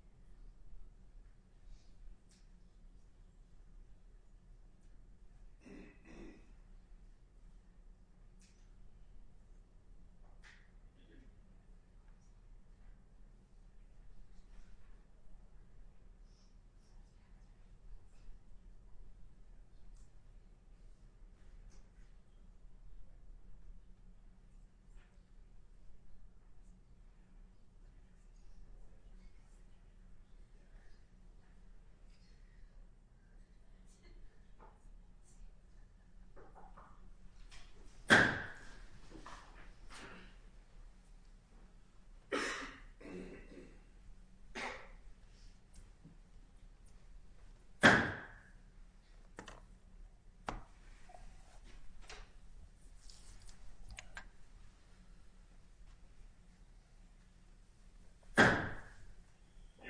v. Dave Jacobson v. Dave Jacobson v. Dave Jacobson v. Dave Jacobson The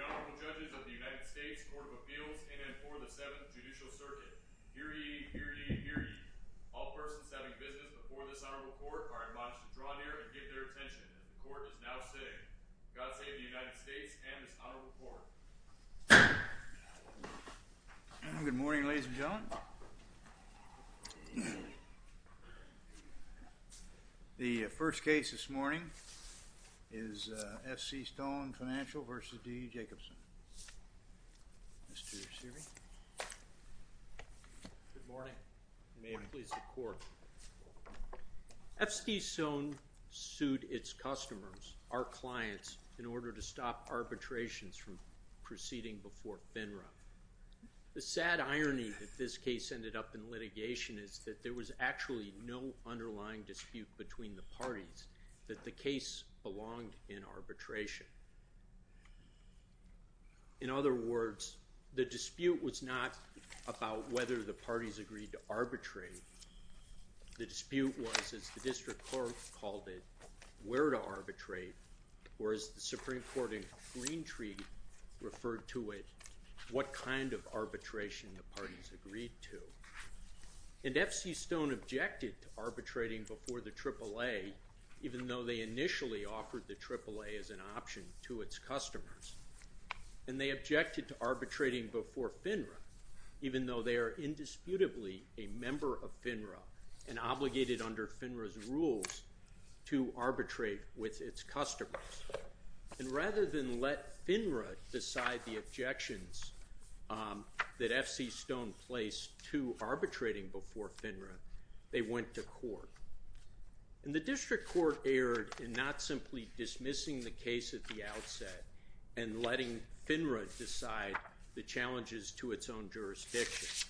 Honorable Judges of the United States Court of Appeals in and for the Seventh Judicial Circuit Hear ye, hear ye, hear ye All persons having business before this Honorable Court are admonished to draw near and give their attention as the Court is now sitting. God save the United States and this Honorable Court. Good morning ladies and gentlemen. The first case this morning is F.C. Stone Financial v. D. Jacobson. Good morning. May it please the Court. F.C. Stone sued its customers, our clients, in order to stop arbitrations from proceeding before FINRA. The sad irony that this case ended up in litigation is that there was actually no underlying dispute between the parties that the case belonged in arbitration. In other words, the dispute was not about whether the parties agreed to arbitrate, the dispute was, as the District Court called it, where to arbitrate, or as the Supreme Court in the Green Treaty referred to it, what kind of arbitration the parties agreed to. And F.C. Stone objected to arbitrating before the AAA, even though they initially offered the AAA as an option to its customers. And they objected to arbitrating before FINRA, even though they are indisputably a member of FINRA and obligated under FINRA's rules to arbitrate with its customers. And rather than let FINRA decide the objections that F.C. Stone placed to arbitrating before FINRA, they went to court. And the District Court erred in not simply dismissing the case at the outset and letting FINRA decide the challenges to its own jurisdiction.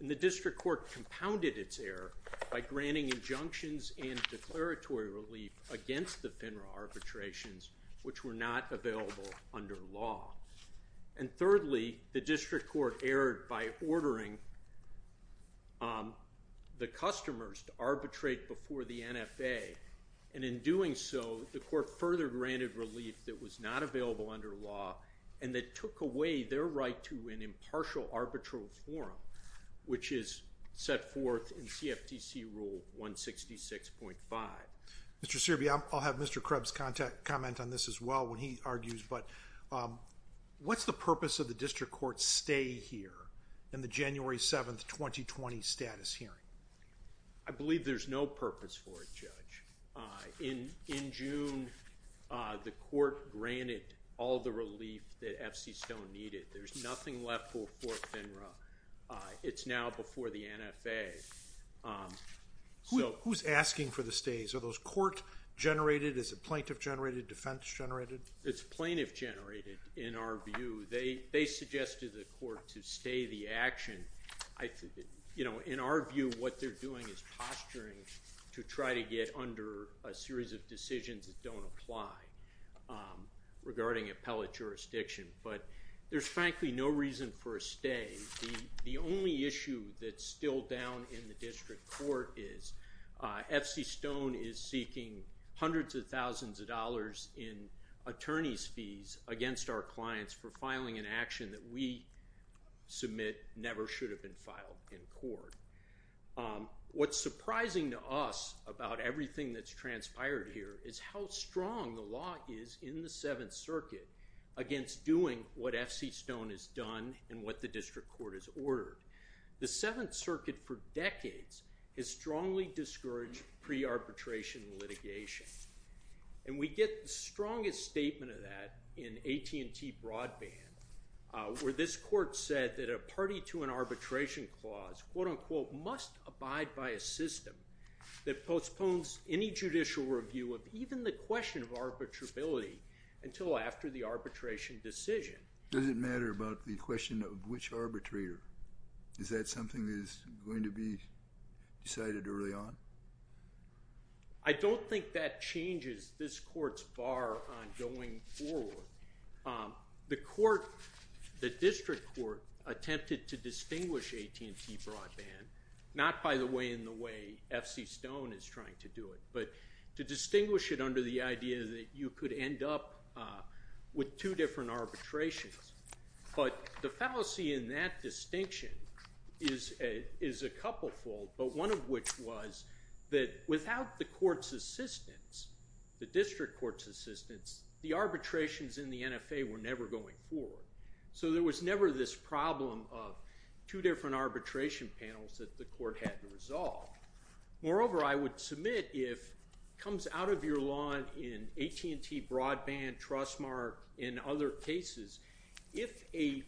And the District Court compounded its error by granting injunctions and declaratory relief against the FINRA arbitrations, which were not available under law. And thirdly, the District Court erred by ordering the customers to arbitrate before the NFA, and in doing so, the court further granted relief that was not available under law and that took away their right to an impartial arbitral forum, which is set forth in CFTC Rule 166.5. Mr. Searby, I'll have Mr. Krebs comment on this as well when he argues, but what's the purpose of the District Court's stay here in the January 7, 2020, status hearing? I believe there's no purpose for it, Judge. In June, the court granted all the relief that FC Stone needed. There's nothing left for FINRA. It's now before the NFA. Who's asking for the stays? Are those court-generated, is it plaintiff-generated, defense-generated? It's plaintiff-generated in our view. They suggested to the court to stay the action. In our view, what they're doing is posturing to try to get under a series of decisions that don't apply regarding appellate jurisdiction, but there's frankly no reason for a stay. The only issue that's still down in the District Court is FC Stone is seeking hundreds of thousands of dollars in attorney's fees against our clients for filing an action that we submit never should have been filed in court. What's surprising to us about everything that's transpired here is how strong the law is in the Seventh Circuit against doing what FC Stone has done and what the District Court has ordered. The Seventh Circuit for decades has strongly discouraged pre-arbitration litigation, and we get the strongest statement of that in AT&T Broadband where this court said that a party to an arbitration clause must abide by a system that postpones any judicial review of even the question of arbitrability until after the arbitration decision. Does it matter about the question of which arbitrator? Is that something that is going to be decided early on? I don't think that changes this court's bar on going forward. The District Court attempted to distinguish AT&T Broadband, not by the way in the way FC Stone is trying to do it, but to distinguish it under the idea that you could end up with two different arbitrations. But the fallacy in that distinction is a couplefold, but one of which was that without the court's assistance, the District Court's assistance, the arbitrations in the NFA were never going forward. So there was never this problem of two different arbitration panels that the court had to resolve. Moreover, I would submit if it comes out of your lawn in AT&T Broadband, Trustmark, and other cases, if a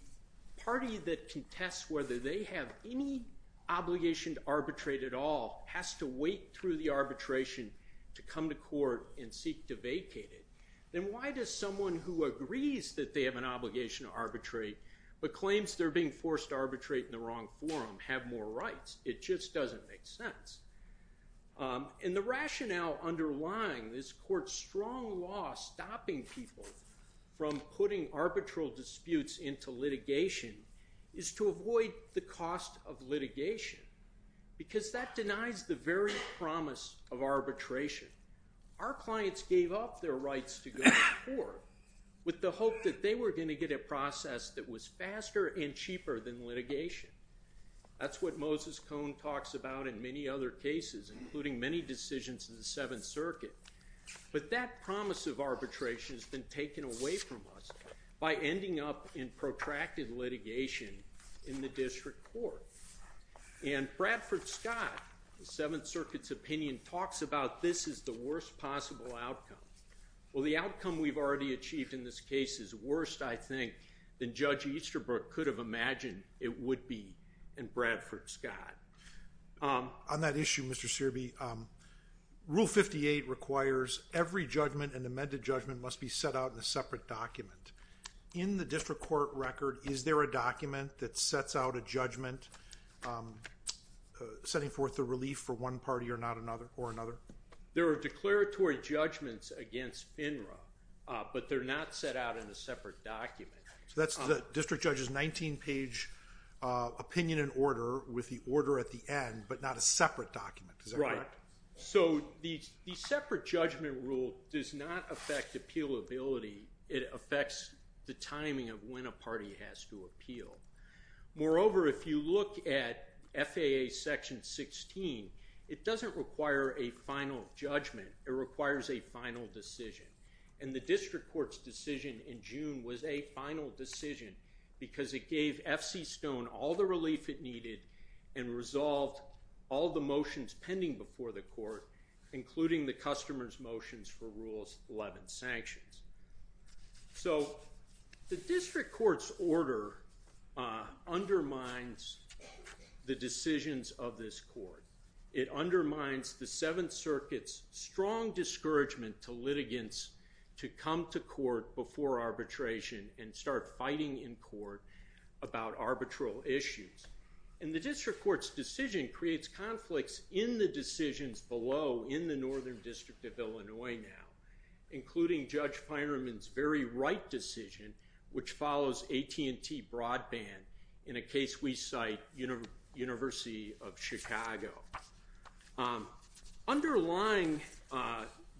party that contests whether they have any obligation to arbitrate at all has to wait through the arbitration to come to court and seek to vacate it, then why does someone who agrees that they have an obligation to arbitrate but claims they're being forced to arbitrate in the wrong forum have more rights? It just doesn't make sense. And the rationale underlying this court's strong law stopping people from putting arbitral disputes into litigation is to avoid the cost of litigation because that denies the very promise of arbitration. Our clients gave up their rights to go to court with the hope that they were going to get a process that was faster and cheaper than litigation. That's what Moses Cohn talks about in many other cases, including many decisions in the Seventh Circuit. But that promise of arbitration has been taken away from us by ending up in protracted litigation in the district court. And Bradford Scott, the Seventh Circuit's opinion, talks about this as the worst possible outcome. Well, the outcome we've already achieved in this case is worse, I think, than Judge Easterbrook could have imagined it would be in Bradford Scott. On that issue, Mr. Searby, Rule 58 requires every judgment, an amended judgment, must be set out in a separate document. In the district court record, is there a document that sets out a judgment setting forth the relief for one party or another? There are declaratory judgments against FINRA, but they're not set out in a separate document. So that's the district judge's 19-page opinion and order with the order at the end, but not a separate document. Is that correct? So the separate judgment rule does not affect appealability. It affects the timing of when a party has to appeal. Moreover, if you look at FAA Section 16, it doesn't require a final judgment. It requires a final decision. And the district court's decision in June was a final decision because it gave FC Stone all the relief it needed and resolved all the motions pending before the court, including the customer's motions for Rule 11 sanctions. So the district court's order undermines the decisions of this court. It undermines the Seventh Circuit's strong discouragement to litigants to come to court before arbitration and start fighting in court about arbitral issues. And the district court's decision creates conflicts in the decisions below in the Northern District of Illinois now, including Judge Finerman's very right decision, which follows AT&T broadband in a case we cite, University of Chicago. Underlying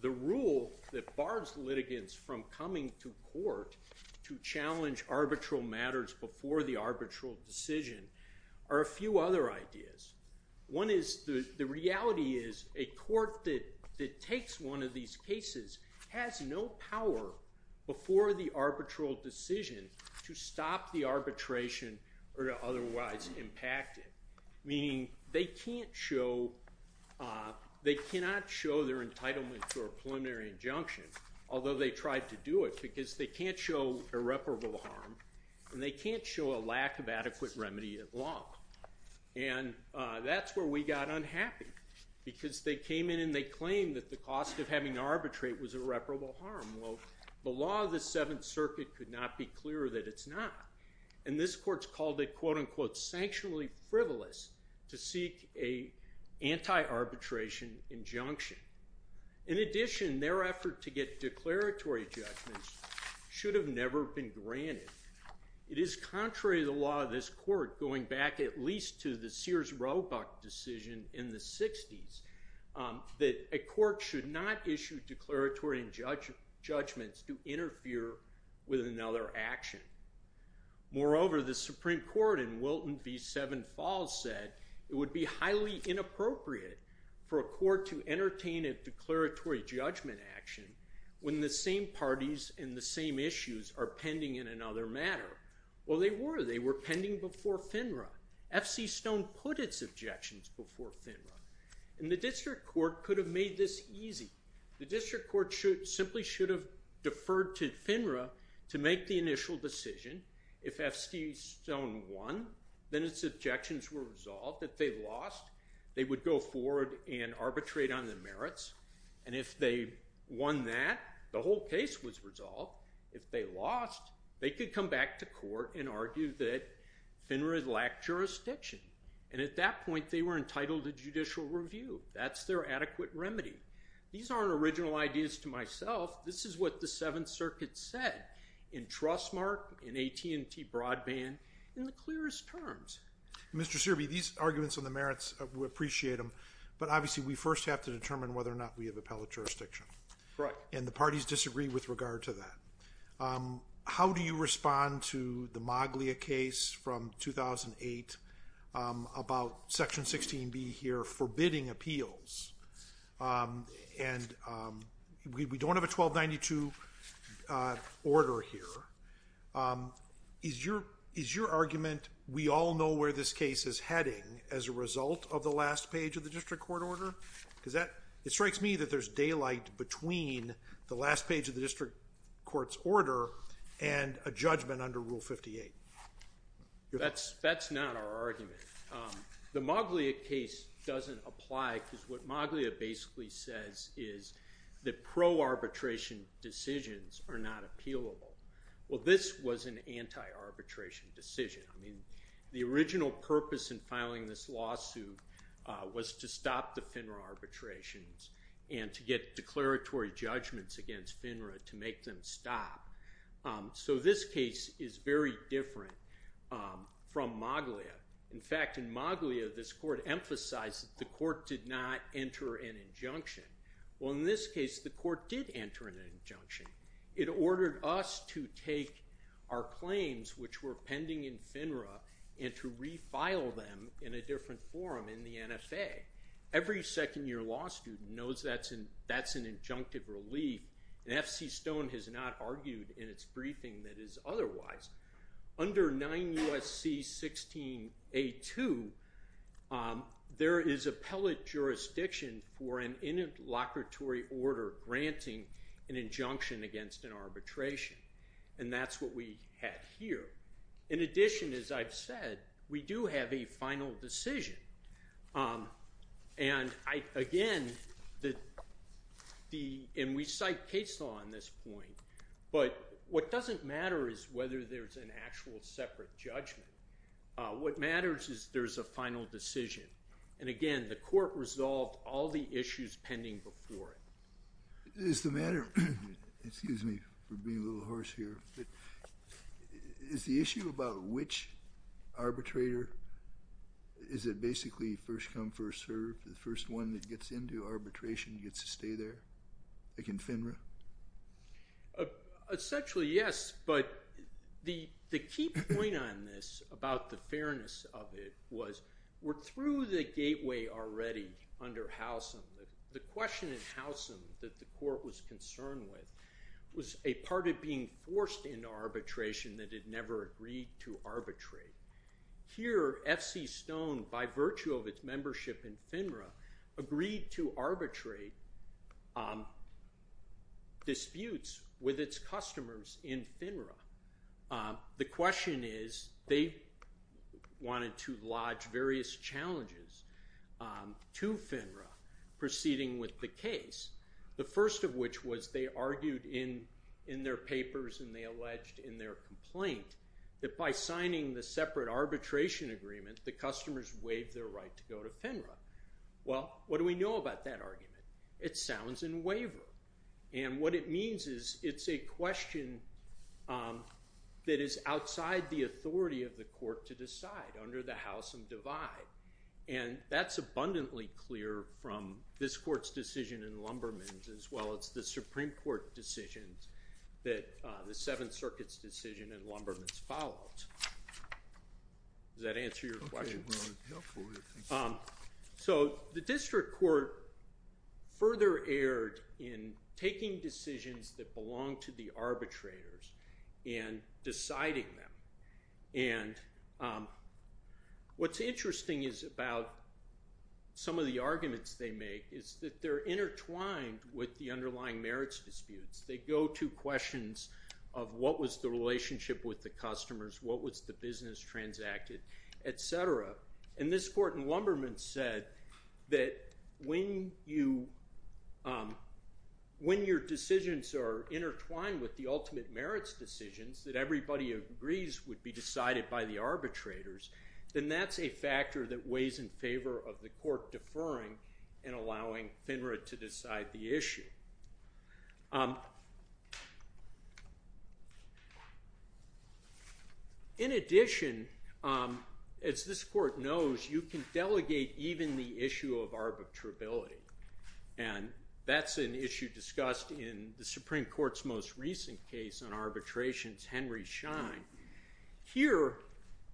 the rule that bars litigants from coming to court to challenge arbitral matters before the arbitral decision are a few other ideas. One is the reality is a court that takes one of these cases has no power before the arbitral decision to stop the arbitration or to otherwise impact it, meaning they cannot show their entitlement to a preliminary injunction, although they tried to do it, because they can't show irreparable harm and they can't show a lack of adequate remedy at law. And that's where we got unhappy, because they came in and they claimed that the cost of having to arbitrate was irreparable harm. Well, the law of the Seventh Circuit could not be clearer that it's not. And this court's called it, quote unquote, sanctionally frivolous to seek a anti-arbitration injunction. In addition, their effort to get declaratory judgments should have never been granted. It is contrary to the law of this court, going back at least to the Sears-Roebuck decision in the 60s, that a court should not issue declaratory judgments to interfere with another action. Moreover, the Supreme Court in Wilton v. Seven Falls said it would be highly inappropriate for a court to entertain a declaratory judgment action when the same parties and the same issues are pending in another matter. Well, they were. They were pending before FINRA. F.C. Stone put its objections before FINRA. And the district court could have made this easy. The district court simply should have deferred to FINRA to make the initial decision. If F.C. Stone won, then its objections were resolved. If they lost, they would go forward and arbitrate on the merits. And if they won that, the whole case was resolved. If they lost, they could come back to court and argue that FINRA lacked jurisdiction. And at that point, they were entitled to judicial review. That's their adequate remedy. These aren't original ideas to myself. This is what the Seventh Circuit said in Trustmark, in AT&T Broadband, in the clearest terms. Mr. Searby, these arguments on the merits, we appreciate them. But obviously, we first have to determine whether or not we have appellate jurisdiction. Right. And the parties disagree with regard to that. How do you respond to the Maglia case from 2008 about Section 16B here forbidding appeals? And we don't have a 1292 order here. Is your argument, we all know where this case is heading as a result of the last page of the district court order? Because it strikes me that there's daylight between the last page of the district court's order and a judgment under Rule 58. That's not our argument. The Maglia case doesn't apply because what Maglia basically says is that pro-arbitration decisions are not appealable. Well, this was an anti-arbitration decision. I mean, the original purpose in filing this lawsuit was to stop the FINRA arbitrations and to get declaratory judgments against FINRA to make them stop. So this case is very different from Maglia. In fact, in Maglia, this court emphasized that the court did not enter an injunction. Well, in this case, the court did enter an injunction. It ordered us to take our claims, which were pending in FINRA, and to refile them in a different forum in the NFA. Every second-year law student knows that's an injunctive relief. And FC Stone has not argued in its briefing that is otherwise. Under 9 U.S.C. 16A2, there is appellate jurisdiction for an interlocutory order granting an injunction against an arbitration. And that's what we had here. In addition, as I've said, we do have a final decision. And again, and we cite case law on this point, but what doesn't matter is whether there's an actual separate judgment. What matters is there's a final decision. And again, the court resolved all the issues pending before it. Is the matter, excuse me for being a little hoarse here, but is the issue about which arbitrator? Is it basically first come, first served? The first one that gets into arbitration gets to stay there, like in FINRA? Essentially, yes. But the key point on this, about the fairness of it, was we're through the gateway already under Howsam. The question in Howsam that the court was concerned with was a part of being forced into arbitration that it never agreed to arbitrate. Here, FC Stone, by virtue of its membership in FINRA, agreed to arbitrate disputes with its customers in FINRA. The question is they wanted to lodge various challenges to FINRA proceeding with the case, the first of which was they argued in their papers and they alleged in their complaint that by signing the separate arbitration agreement, the customers waived their right to go to FINRA. Well, what do we know about that argument? It sounds in waiver. And what it means is it's a question that is outside the authority of the court to decide, under the Howsam divide. And that's abundantly clear from this court's decision in Lumberman's as well as the Supreme Court decision that the Seventh Circuit's decision in Lumberman's followed. Does that answer your question? So the district court further erred in taking decisions that belong to the arbitrators and deciding them. And what's interesting is about some of the arguments they make is that they're intertwined with the underlying merits disputes. They go to questions of what was the relationship with the customers, what was the business transacted, et cetera. And this court in Lumberman's said that when your decisions are intertwined with the ultimate merits decisions that everybody agrees would be decided by the arbitrators, then that's a factor that weighs in favor of the court deferring and allowing FINRA to decide the issue. In addition, as this court knows, you can delegate even the issue of arbitrability. And that's an issue discussed in the Supreme Court's most recent case on arbitrations, Henry Schein. Here,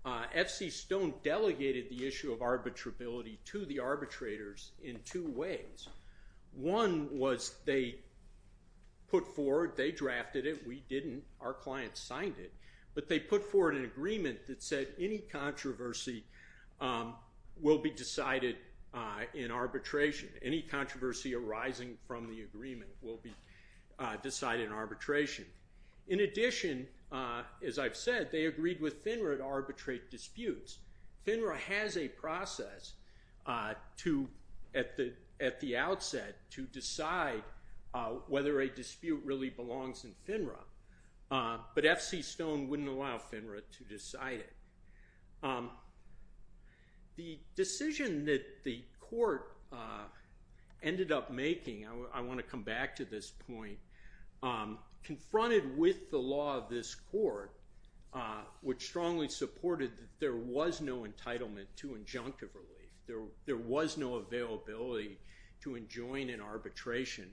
FC Stone delegated the issue of arbitrability to the arbitrators in two ways. One was they put forward, they drafted it. We didn't. Our clients signed it. But they put forward an agreement that said any controversy will be decided in arbitration. Any controversy arising from the agreement will be decided in arbitration. In addition, as I've said, they agreed with FINRA to arbitrate disputes. FINRA has a process at the outset to decide whether a dispute really belongs in FINRA. But FC Stone wouldn't allow FINRA to decide it. The decision that the court ended up making, I want to come back to this point, confronted with the law of this court, which strongly supported that there was no entitlement to injunctive relief. There was no availability to enjoin an arbitration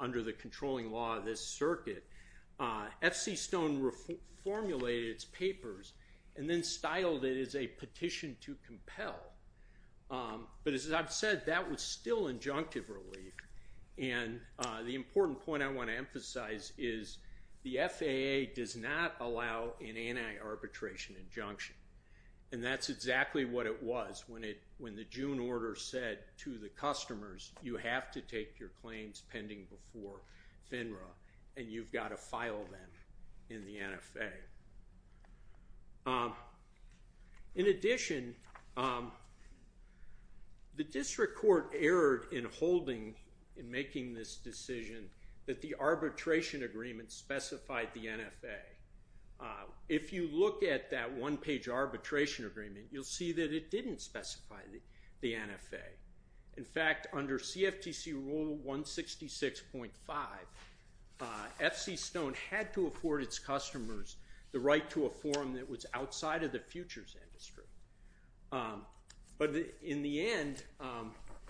under the controlling law of this circuit. FC Stone formulated its papers and then styled it as a petition to compel. But as I've said, that was still injunctive relief. And the important point I want to emphasize is the FAA does not allow an anti-arbitration injunction. And that's exactly what it was when the June order said to the customers, you have to take your claims pending before FINRA, and you've got to file them in the NFA. In addition, the district court erred in holding, in making this decision, that the arbitration agreement specified the NFA. If you look at that one-page arbitration agreement, you'll see that it didn't specify the NFA. In fact, under CFTC Rule 166.5, FC Stone had to afford its customers the right to a forum that was outside of the futures industry. But in the end,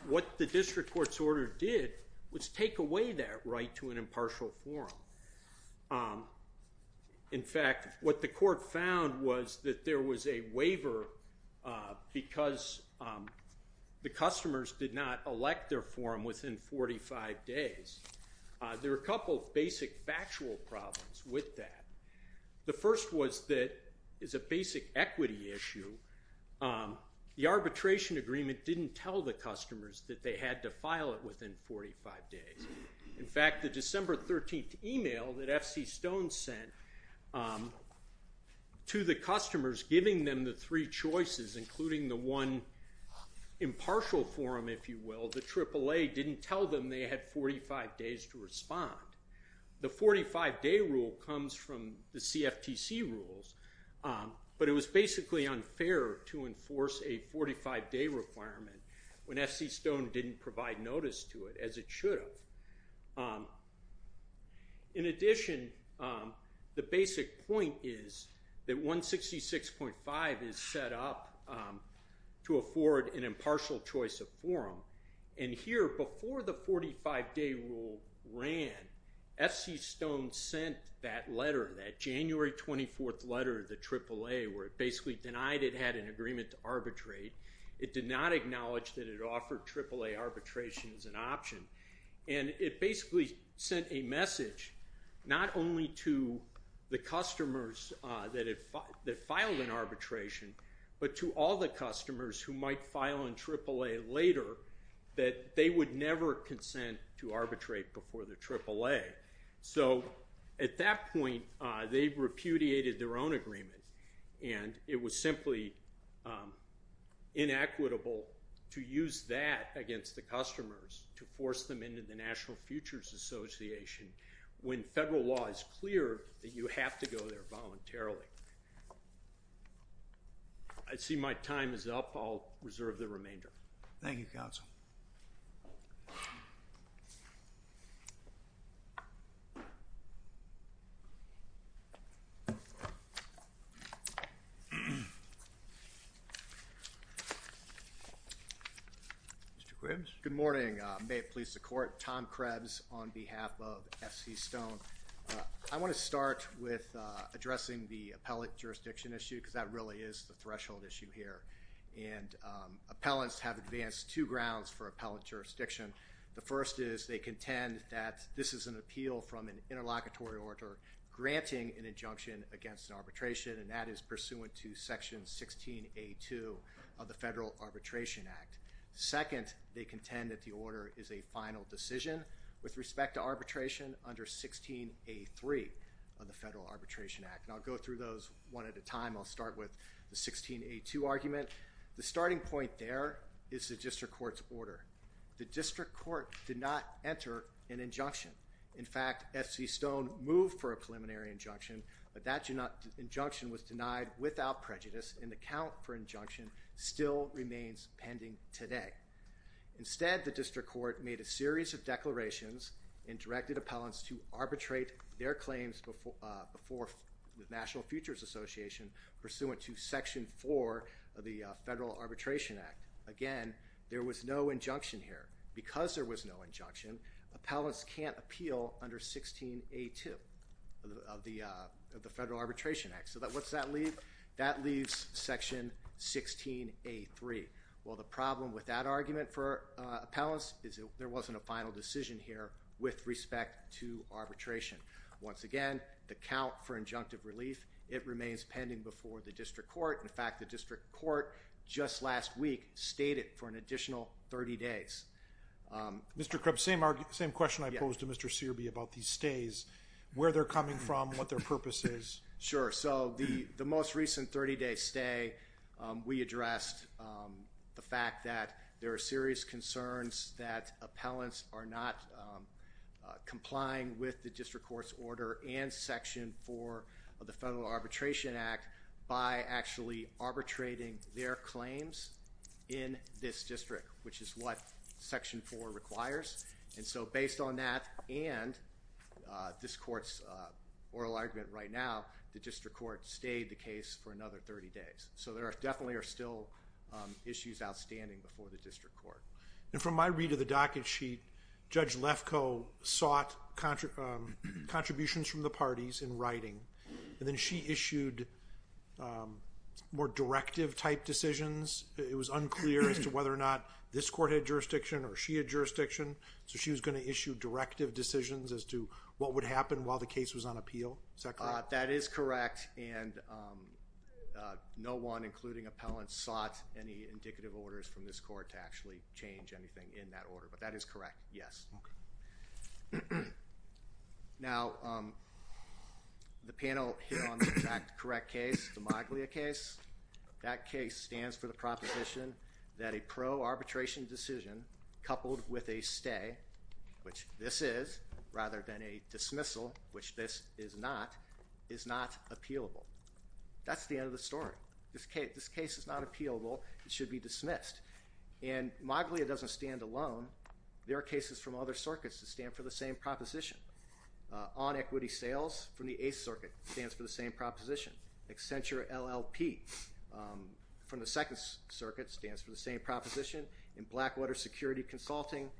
what the district court's order did was take away that right to an impartial forum. In fact, what the court found was that there was a waiver because the customers did not elect their forum within 45 days. There were a couple of basic factual problems with that. The first was that, as a basic equity issue, the arbitration agreement didn't tell the customers that they had to file it within 45 days. In fact, the December 13th email that FC Stone sent to the customers, giving them the three choices, including the one impartial forum, if you will, the AAA didn't tell them they had 45 days to respond. The 45-day rule comes from the CFTC rules, but it was basically unfair to enforce a 45-day requirement when FC Stone didn't provide notice to it, as it should have. In addition, the basic point is that 166.5 is set up to afford an impartial choice of forum. And here, before the 45-day rule ran, FC Stone sent that letter, that January 24th letter to AAA, where it basically denied it had an agreement to arbitrate. It did not acknowledge that it offered AAA arbitration as an option. And it basically sent a message not only to the customers that filed an arbitration, but to all the customers who might file in AAA later, that they would never consent to arbitrate before the AAA. So at that point, they repudiated their own agreement, and it was simply inequitable to use that against the customers to force them into the National Futures Association when federal law is clear that you have to go there voluntarily. I see my time is up. I'll reserve the remainder. Thank you, Counsel. Mr. Quibbs? Good morning. May it please the Court. Tom Krebs on behalf of FC Stone. I want to start with addressing the appellate jurisdiction issue, because that really is the threshold issue here. And appellants have advanced two grounds for appellate jurisdiction. The first is they contend that this is an appeal from an interlocutory order granting an injunction against an arbitration, and that is pursuant to Section 16A2 of the Federal Arbitration Act. Second, they contend that the order is a final decision with respect to arbitration under 16A3 of the Federal Arbitration Act. And I'll go through those one at a time. I'll start with the 16A2 argument. The starting point there is the district court's order. The district court did not enter an injunction. In fact, FC Stone moved for a preliminary injunction, but that injunction was denied without prejudice, and the count for injunction still remains pending today. Instead, the district court made a series of declarations and directed appellants to arbitrate their claims before the National Futures Association, pursuant to Section 4 of the Federal Arbitration Act. Again, there was no injunction here. Because there was no injunction, appellants can't appeal under 16A2 of the Federal Arbitration Act. So what's that leave? That leaves Section 16A3. Well, the problem with that argument for appellants is there wasn't a final decision here with respect to arbitration. Once again, the count for injunctive relief, it remains pending before the district court. In fact, the district court just last week stayed it for an additional 30 days. Mr. Krebs, same question I posed to Mr. Searby about these stays, where they're coming from, what their purpose is. Sure. So the most recent 30-day stay, we addressed the fact that there are serious concerns that appellants are not complying with the district court's order and Section 4 of the Federal Arbitration Act by actually arbitrating their claims in this district, which is what Section 4 requires. And so based on that and this court's oral argument right now, the district court stayed the case for another 30 days. So there definitely are still issues outstanding before the district court. And from my read of the docket sheet, Judge Lefkoe sought contributions from the parties in writing. And then she issued more directive-type decisions. It was unclear as to whether or not this court had jurisdiction or she had jurisdiction. So she was going to issue directive decisions as to what would happen while the case was on appeal. Is that correct? That is correct. And no one, including appellants, sought any indicative orders from this court to actually change anything in that order. But that is correct, yes. Now, the panel hit on the correct case, the Moglia case. That case stands for the proposition that a pro-arbitration decision coupled with a stay, which this is, rather than a dismissal, which this is not, is not appealable. That's the end of the story. This case is not appealable. It should be dismissed. And Moglia doesn't stand alone. There are cases from other circuits that stand for the same proposition. On equity sales from the Eighth Circuit stands for the same proposition. Accenture LLP from the Second Circuit stands for the same proposition. And Blackwater Security Consulting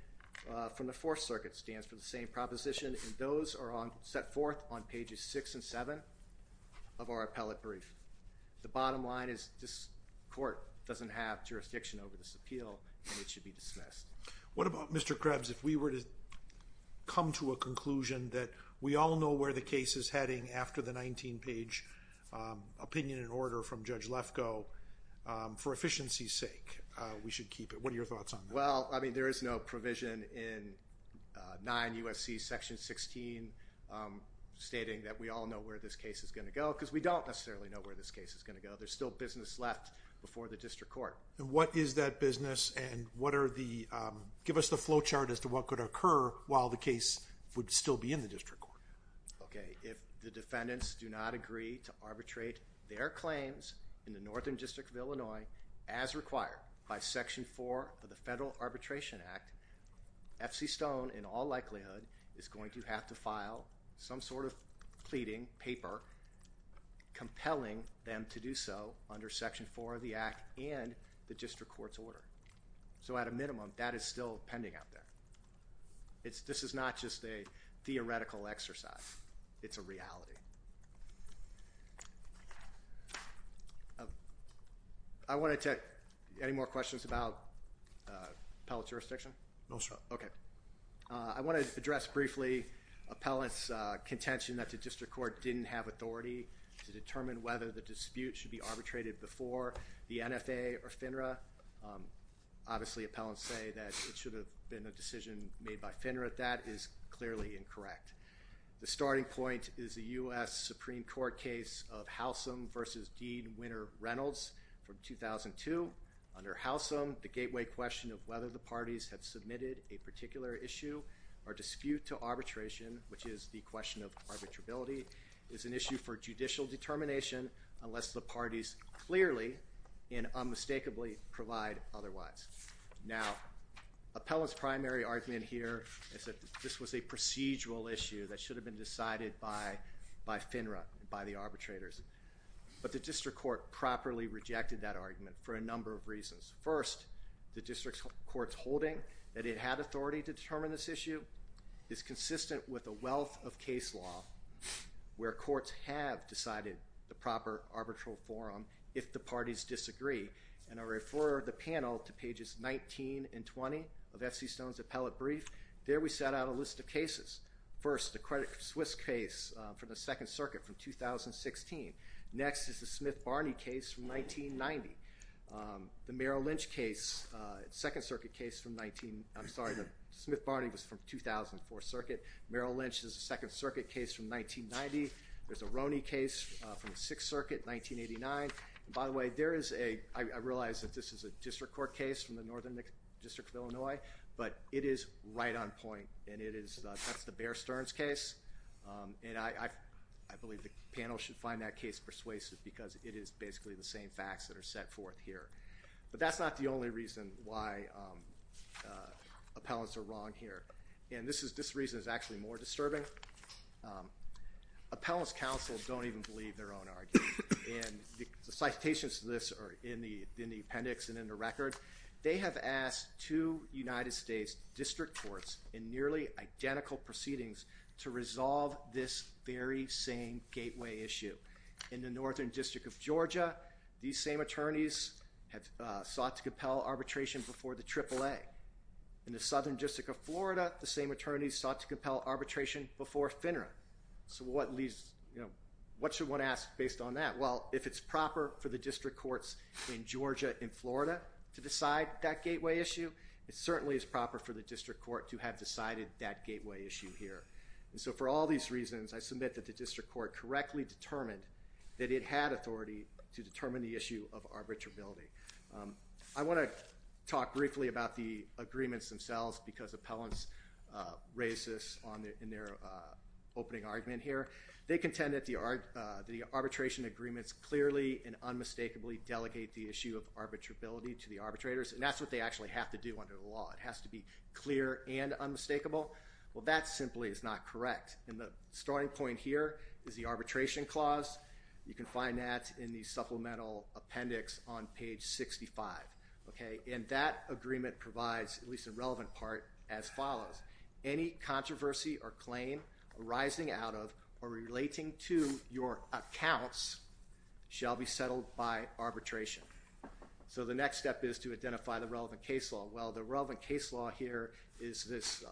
from the Fourth Circuit stands for the same proposition. And those are set forth on pages six and seven of our appellate brief. The bottom line is this court doesn't have jurisdiction over this appeal, and it should be dismissed. What about, Mr. Krebs, if we were to come to a conclusion that we all know where the case is heading after the 19-page opinion and order from Judge Lefkoe? For efficiency's sake, we should keep it. What are your thoughts on that? Well, I mean, there is no provision in 9 U.S.C. Section 16 stating that we all know where this case is going to go, because we don't necessarily know where this case is going to go. There's still business left before the district court. What is that business? And give us the flow chart as to what could occur while the case would still be in the district court. If the defendants do not agree to arbitrate their claims in the Northern District of Illinois as required by Section 4 of the Federal Arbitration Act, F.C. Stone in all likelihood is going to have to file some sort of pleading paper compelling them to do so under Section 4 of the Act and the district court's order. So at a minimum, that is still pending out there. This is not just a theoretical exercise. It's a reality. Thank you. Any more questions about appellate jurisdiction? No, sir. OK. I want to address briefly appellant's contention that the district court didn't have authority to determine whether the dispute should be arbitrated before the NFA or FINRA. Obviously, appellants say that it should have been a decision made by FINRA. That is clearly incorrect. The starting point is the US Supreme Court case of Halsum versus Dean Winter Reynolds from 2002. Under Halsum, the gateway question of whether the parties have submitted a particular issue or dispute to arbitration, which is the question of arbitrability, is an issue for judicial determination unless the parties clearly and unmistakably provide otherwise. Now, appellant's primary argument here is that this was a procedural issue that should have been decided by FINRA, by the arbitrators. But the district court properly rejected that argument for a number of reasons. First, the district court's holding that it had authority to determine this issue is consistent with a wealth of case law where courts have decided the proper arbitral forum if the parties disagree. And I refer the panel to pages 19 and 20 of FC Stone's appellate brief. There we set out a list of cases. First, the Credit Suisse case for the Second Circuit from 2016. Next is the Smith-Barney case from 1990. The Merrill Lynch case, Second Circuit case from 19, I'm sorry, the Smith-Barney was from 2004 circuit. Merrill Lynch is a Second Circuit case from 1990. There's a Roney case from the Sixth Circuit, 1989. By the way, there is a, I realize that this is a district court case from the Northern District of Illinois. But it is right on point. And that's the Bear Stearns case. And I believe the panel should find that case persuasive because it is basically the same facts that are set forth here. But that's not the only reason why appellants are wrong here. And this reason is actually more disturbing. Appellants counsel don't even believe their own argument. And the citations to this are in the appendix and in the record. They have asked two United States district courts in nearly identical proceedings to resolve this very same gateway issue. In the Northern District of Georgia, these same attorneys have sought to compel arbitration before the AAA. In the Southern District of Florida, the same attorneys sought to compel arbitration before FINRA. So what should one ask based on that? Well, if it's proper for the district courts in Georgia and Florida to decide that gateway issue, it certainly is proper for the district court to have decided that gateway issue here. And so for all these reasons, I submit that the district court correctly determined that it had authority to determine the issue of arbitrability. I want to talk briefly about the agreements themselves because appellants raised this in their opening argument here. They contend that the arbitration agreements clearly and unmistakably delegate the issue of arbitrability to the arbitrators. And that's what they actually have to do under the law. It has to be clear and unmistakable. Well, that simply is not correct. And the starting point here is the arbitration clause. You can find that in the supplemental appendix on page 65. And that agreement provides at least a relevant part as follows. Any controversy or claim arising out of or relating to your accounts shall be settled by arbitration. So the next step is to identify the relevant case law. Well, the relevant case law here is this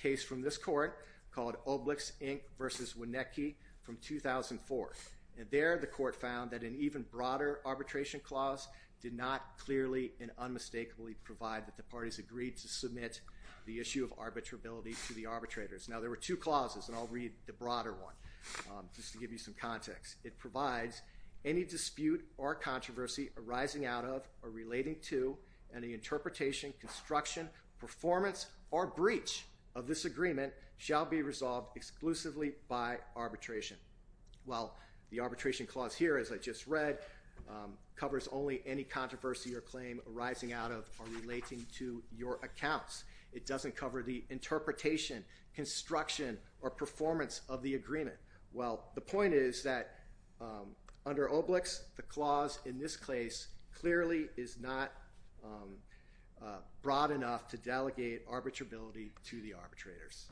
case from this court called Oblix, Inc. versus Wonecki from 2004. And there, the court found that an even broader arbitration clause did not clearly and unmistakably provide that the parties agreed to submit the issue of arbitrability to the arbitrators. Now, there were two clauses. And I'll read the broader one just to give you some context. It provides any dispute or controversy arising out of or relating to any interpretation, construction, performance, or breach of this agreement shall be resolved exclusively by arbitration. Well, the arbitration clause here, as I just read, covers only any controversy or claim arising out of or relating to your accounts. It doesn't cover the interpretation, construction, or performance of the agreement. Well, the point is that under Oblix, the clause in this case clearly is not broad enough to delegate arbitrability to the arbitrators.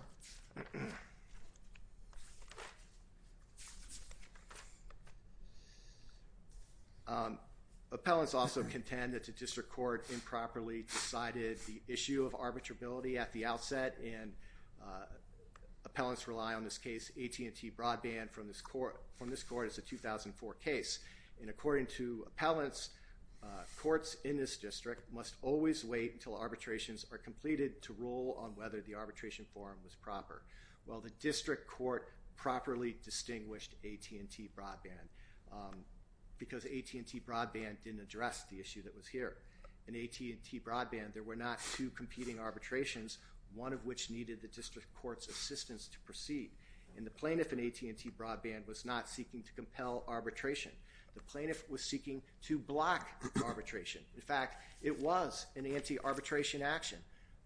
Appellants also contend that the district court improperly decided the issue of arbitrability at the outset. And appellants rely on this case AT&T Broadband from this court as a 2004 case. And according to appellants, courts in this district must always wait until arbitrations are completed to rule on whether the arbitration form was proper. Well, the district court properly distinguished AT&T Broadband because AT&T Broadband didn't address the issue that was here. In AT&T Broadband, there were not two competing arbitrations, one of which needed the district court's assistance to proceed. And the plaintiff in AT&T Broadband was not seeking to compel arbitration. The plaintiff was seeking to block arbitration. In fact, it was an anti-arbitration action.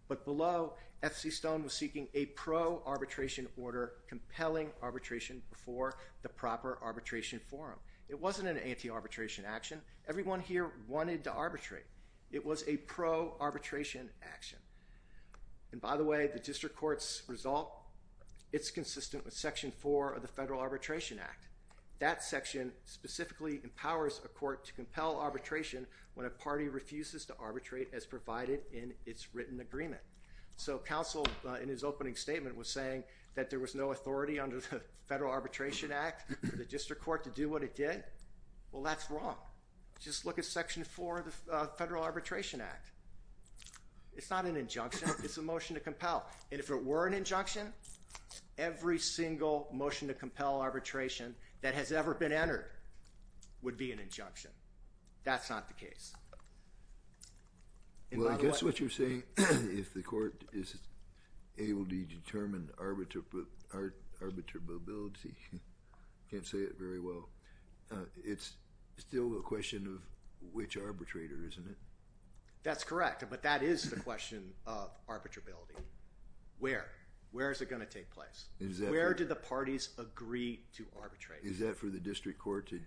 But below, FC Stone was seeking a pro-arbitration order compelling arbitration before the proper arbitration forum. It wasn't an anti-arbitration action. Everyone here wanted to arbitrate. It was a pro-arbitration action. And by the way, the district court's result, it's consistent with Section 4 of the Federal Arbitration Act. That section specifically empowers a court to compel arbitration when a party refuses to arbitrate as provided in its written agreement. So counsel, in his opening statement, was saying that there was no authority under the Federal Arbitration Act for the district court to do what it did. Well, that's wrong. Just look at Section 4 of the Federal Arbitration Act. It's not an injunction. It's a motion to compel. And if it were an injunction, every single motion to compel arbitration that has ever been entered would be an injunction. That's not the case. Well, I guess what you're saying, if the court is able to determine arbitrability, I can't say it very well, it's still a question of which arbitrator, isn't it? That's correct. But that is the question of arbitrability. Where? Where is it going to take place? Where do the parties agree to arbitrate? Is that for the district court to decide?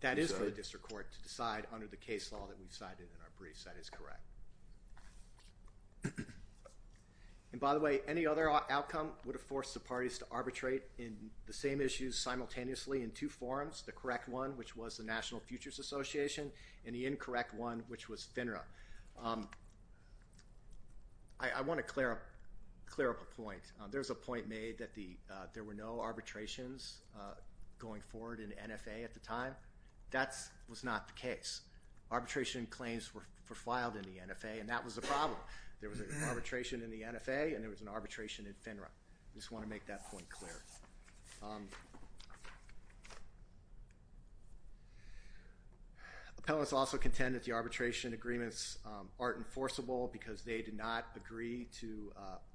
That is for the district court to decide under the case law that we've cited in our briefs. That is correct. And by the way, any other outcome would have forced the parties to arbitrate in the same issues simultaneously in two forums, the correct one, which was the National Futures Association, and the incorrect one, which was FINRA. I want to clear up a point. There was a point made that there were no arbitrations going forward in NFA at the time. That was not the case. Arbitration claims were filed in the NFA, and that was the problem. There was an arbitration in the NFA, and there was an arbitration in FINRA. I just want to make that point clear. Appellants also contend that the arbitration agreements aren't enforceable because they did not agree to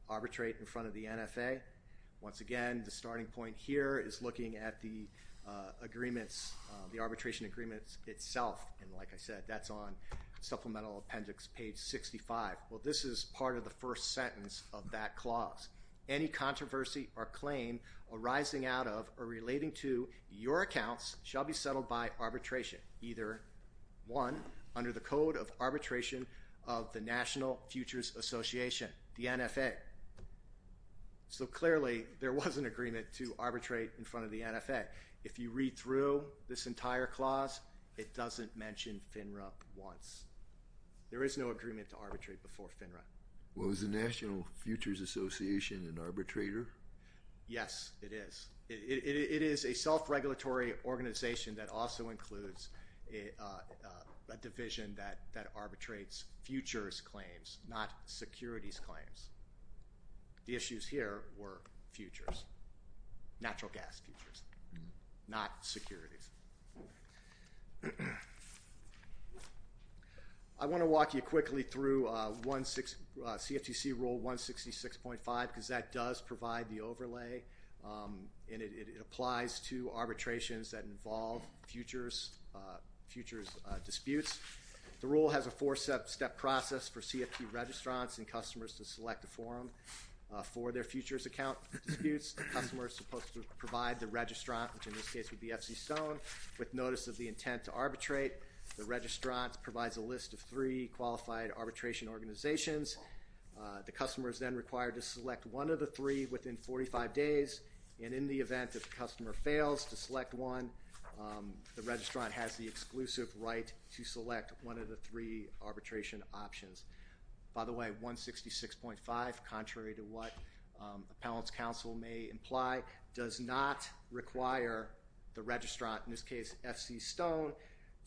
arbitrate in front of the NFA. Once again, the starting point here is looking at the arbitration agreements itself, and like I said, that's on supplemental appendix page 65. Well, this is part of the first sentence of that clause. Any controversy or claim arising out of or relating to your accounts shall be settled by arbitration, either one under the code of arbitration of the National Futures Association, the NFA. So clearly, there was an agreement to arbitrate in front of the NFA. If you read through this entire clause, it doesn't mention FINRA once. There is no agreement to arbitrate before FINRA. Well, is the National Futures Association an arbitrator? Yes, it is. It is a self-regulatory organization that also includes a division that arbitrates futures claims, not securities claims. The issues here were futures, natural gas futures, not securities. I want to walk you quickly through CFTC Rule 166.5 because that does provide the overlay, and it applies to arbitrations that involve futures disputes. The rule has a four-step process for CFT registrants and customers to select a forum for their futures account disputes. The customer is supposed to provide the registrant, which in this case would be FC Stone, with notice of the intent to arbitrate. The registrant provides a list of three qualified arbitration organizations. The customer is then required to select one of the three within 45 days, and in the event that the customer fails to select one, the registrant has the exclusive right to select one of the three arbitration options. By the way, 166.5, contrary to what appellant's counsel may imply, does not require the registrant, in this case FC Stone,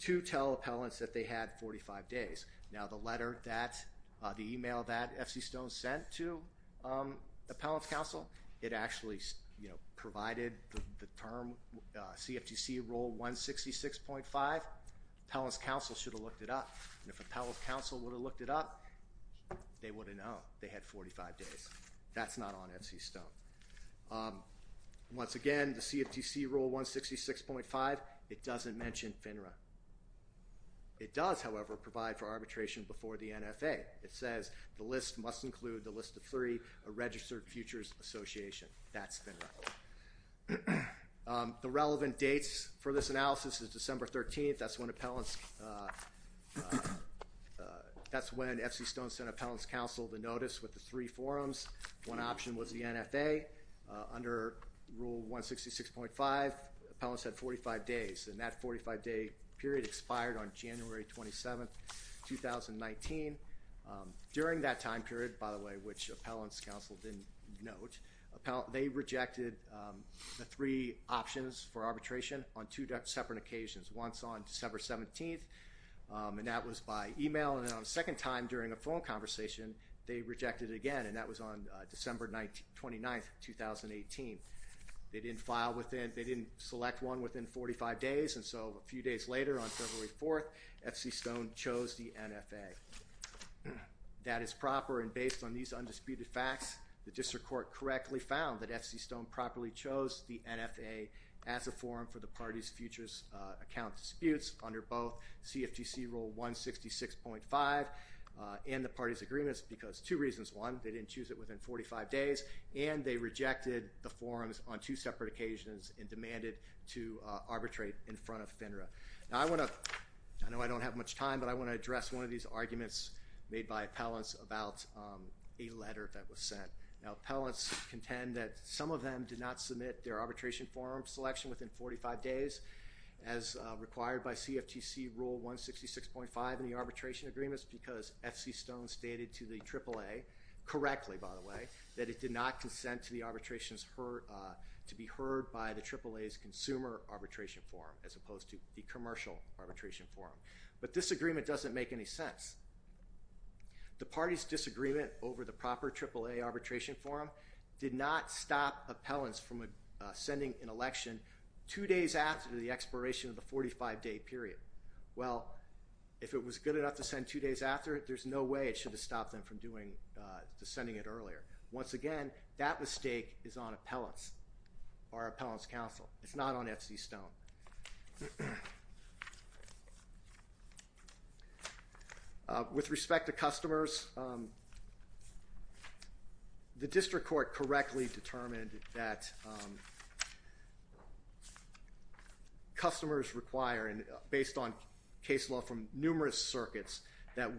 to tell appellants that they had 45 days. Now, the email that FC Stone sent to appellant's counsel, it actually provided the term CFTC Rule 166.5. Appellant's counsel should have looked it up, and if appellant's counsel would have looked it up, they would have known they had 45 days. That's not on FC Stone. Once again, the CFTC Rule 166.5, it doesn't mention FINRA. It does, however, provide for arbitration before the NFA. It says the list must include the list of three registered futures associations. That's FINRA. The relevant dates for this analysis is December 13th. That's when FC Stone sent appellant's counsel the notice with the three forums. One option was the NFA. Under Rule 166.5, appellants had 45 days, and that 45-day period expired on January 27th, 2019. During that time period, by the way, which appellant's counsel didn't note, they rejected the three options for arbitration on two separate occasions. Once on December 17th, and that was by email, and then on a second time during a phone conversation, they rejected it again, and that was on December 29th, 2018. They didn't select one within 45 days, and so a few days later on February 4th, FC Stone chose the NFA. That is proper, and based on these undisputed facts, the district court correctly found that FC Stone properly chose the NFA as a forum for the party's futures account disputes under both CFTC Rule 166.5 and the party's agreements because two reasons. One, they didn't choose it within 45 days, and they rejected the forums on two separate occasions and demanded to arbitrate in front of FINRA. Now I want to, I know I don't have much time, but I want to address one of these arguments made by appellants about a letter that was sent. Now appellants contend that some of them did not submit their arbitration forum selection within 45 days as required by CFTC Rule 166.5 in the arbitration agreements because FC Stone stated to the AAA, correctly by the way, that it did not consent to the arbitrations heard, to be heard by the AAA's consumer arbitration forum as opposed to the commercial arbitration forum. But this agreement doesn't make any sense. The party's disagreement over the proper AAA arbitration forum did not stop appellants from sending an election two days after the expiration of the 45-day period. Well, if it was good enough to send two days after it, there's no way it should have stopped them from sending it earlier. Once again, that mistake is on appellants or appellants' counsel. It's not on FC Stone. With respect to customers, the district court correctly determined that customers require, based on case law from numerous circuits, that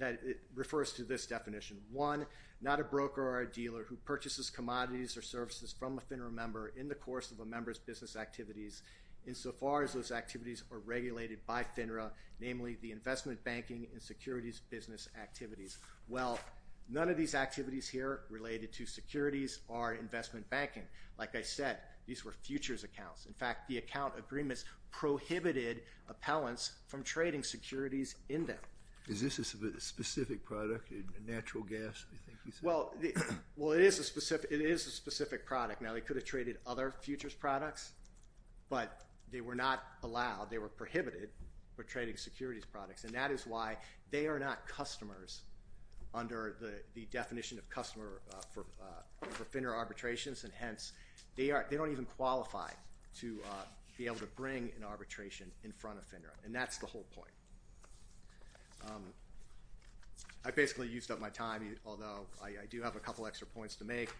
it refers to this definition. One, not a broker or a dealer who purchases commodities or services from a FINRA member in the course of a member's business activities insofar as those activities are regulated by FINRA, namely the investment banking and securities business activities. Well, none of these activities here related to securities or investment banking. Like I said, these were futures accounts. In fact, the account agreements prohibited appellants from trading securities in them. Is this a specific product, a natural gas, you think you said? Well, it is a specific product. Now, they could have traded other futures products, but they were not allowed. They were prohibited from trading securities products, and that is why they are not customers under the definition of customer for FINRA arbitrations, and hence they don't even qualify to be able to bring an arbitration in front of FINRA, and that's the whole point. I basically used up my time, although I do have a couple extra points to make.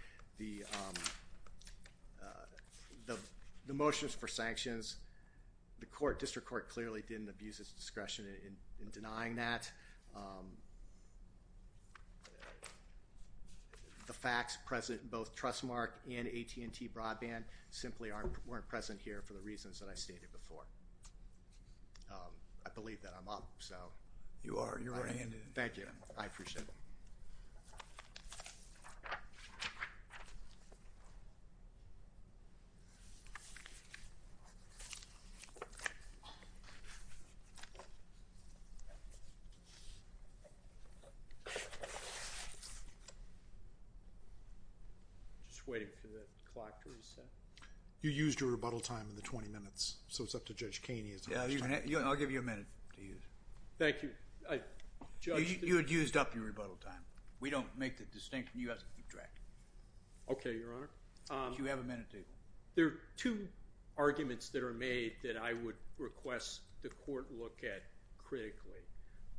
The motions for sanctions, the district court clearly didn't abuse its discretion in denying that. The facts present in both Trustmark and AT&T Broadband simply weren't present here for the reasons that I stated before. I believe that I'm up, so... Just waiting for the clock to reset. You used your rebuttal time in the 20 minutes, so it's up to Judge Keeney. I'll give you a minute to use it. Thank you. You had used up your rebuttal time. We don't make the distinction. You have to keep track. Okay, Your Honor. You have a minute to go. There are two arguments that are made that I would request the court look at critically.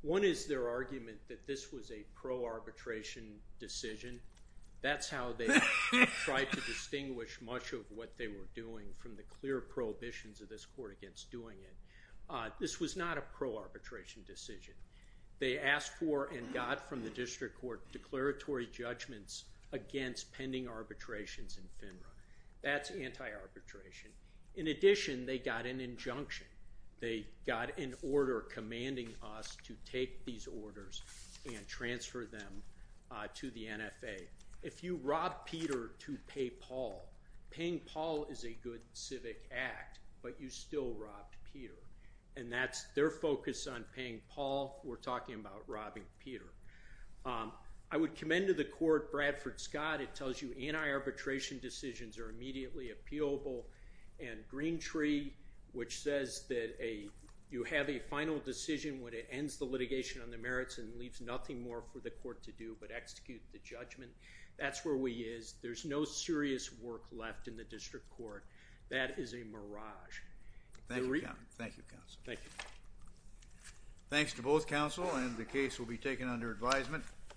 One is their argument that this was a pro-arbitration decision. That's how they tried to distinguish much of what they were doing from the clear prohibitions of this court against doing it. This was not a pro-arbitration decision. They asked for and got from the district court declaratory judgments against pending arbitrations in FINRA. That's anti-arbitration. In addition, they got an injunction. They got an order commanding us to take these orders and transfer them to the NFA. If you robbed Peter to pay Paul, paying Paul is a good civic act, but you still robbed Peter. And that's their focus on paying Paul. We're talking about robbing Peter. I would commend to the court Bradford Scott. It tells you anti-arbitration decisions are immediately appealable. And Green Tree, which says that you have a final decision when it ends the litigation on the merits and leaves nothing more for the court to do but execute the judgment, that's where we is. There's no serious work left in the district court. That is a mirage. Thank you, counsel. Thank you. Thanks to both counsel, and the case will be taken under advisement.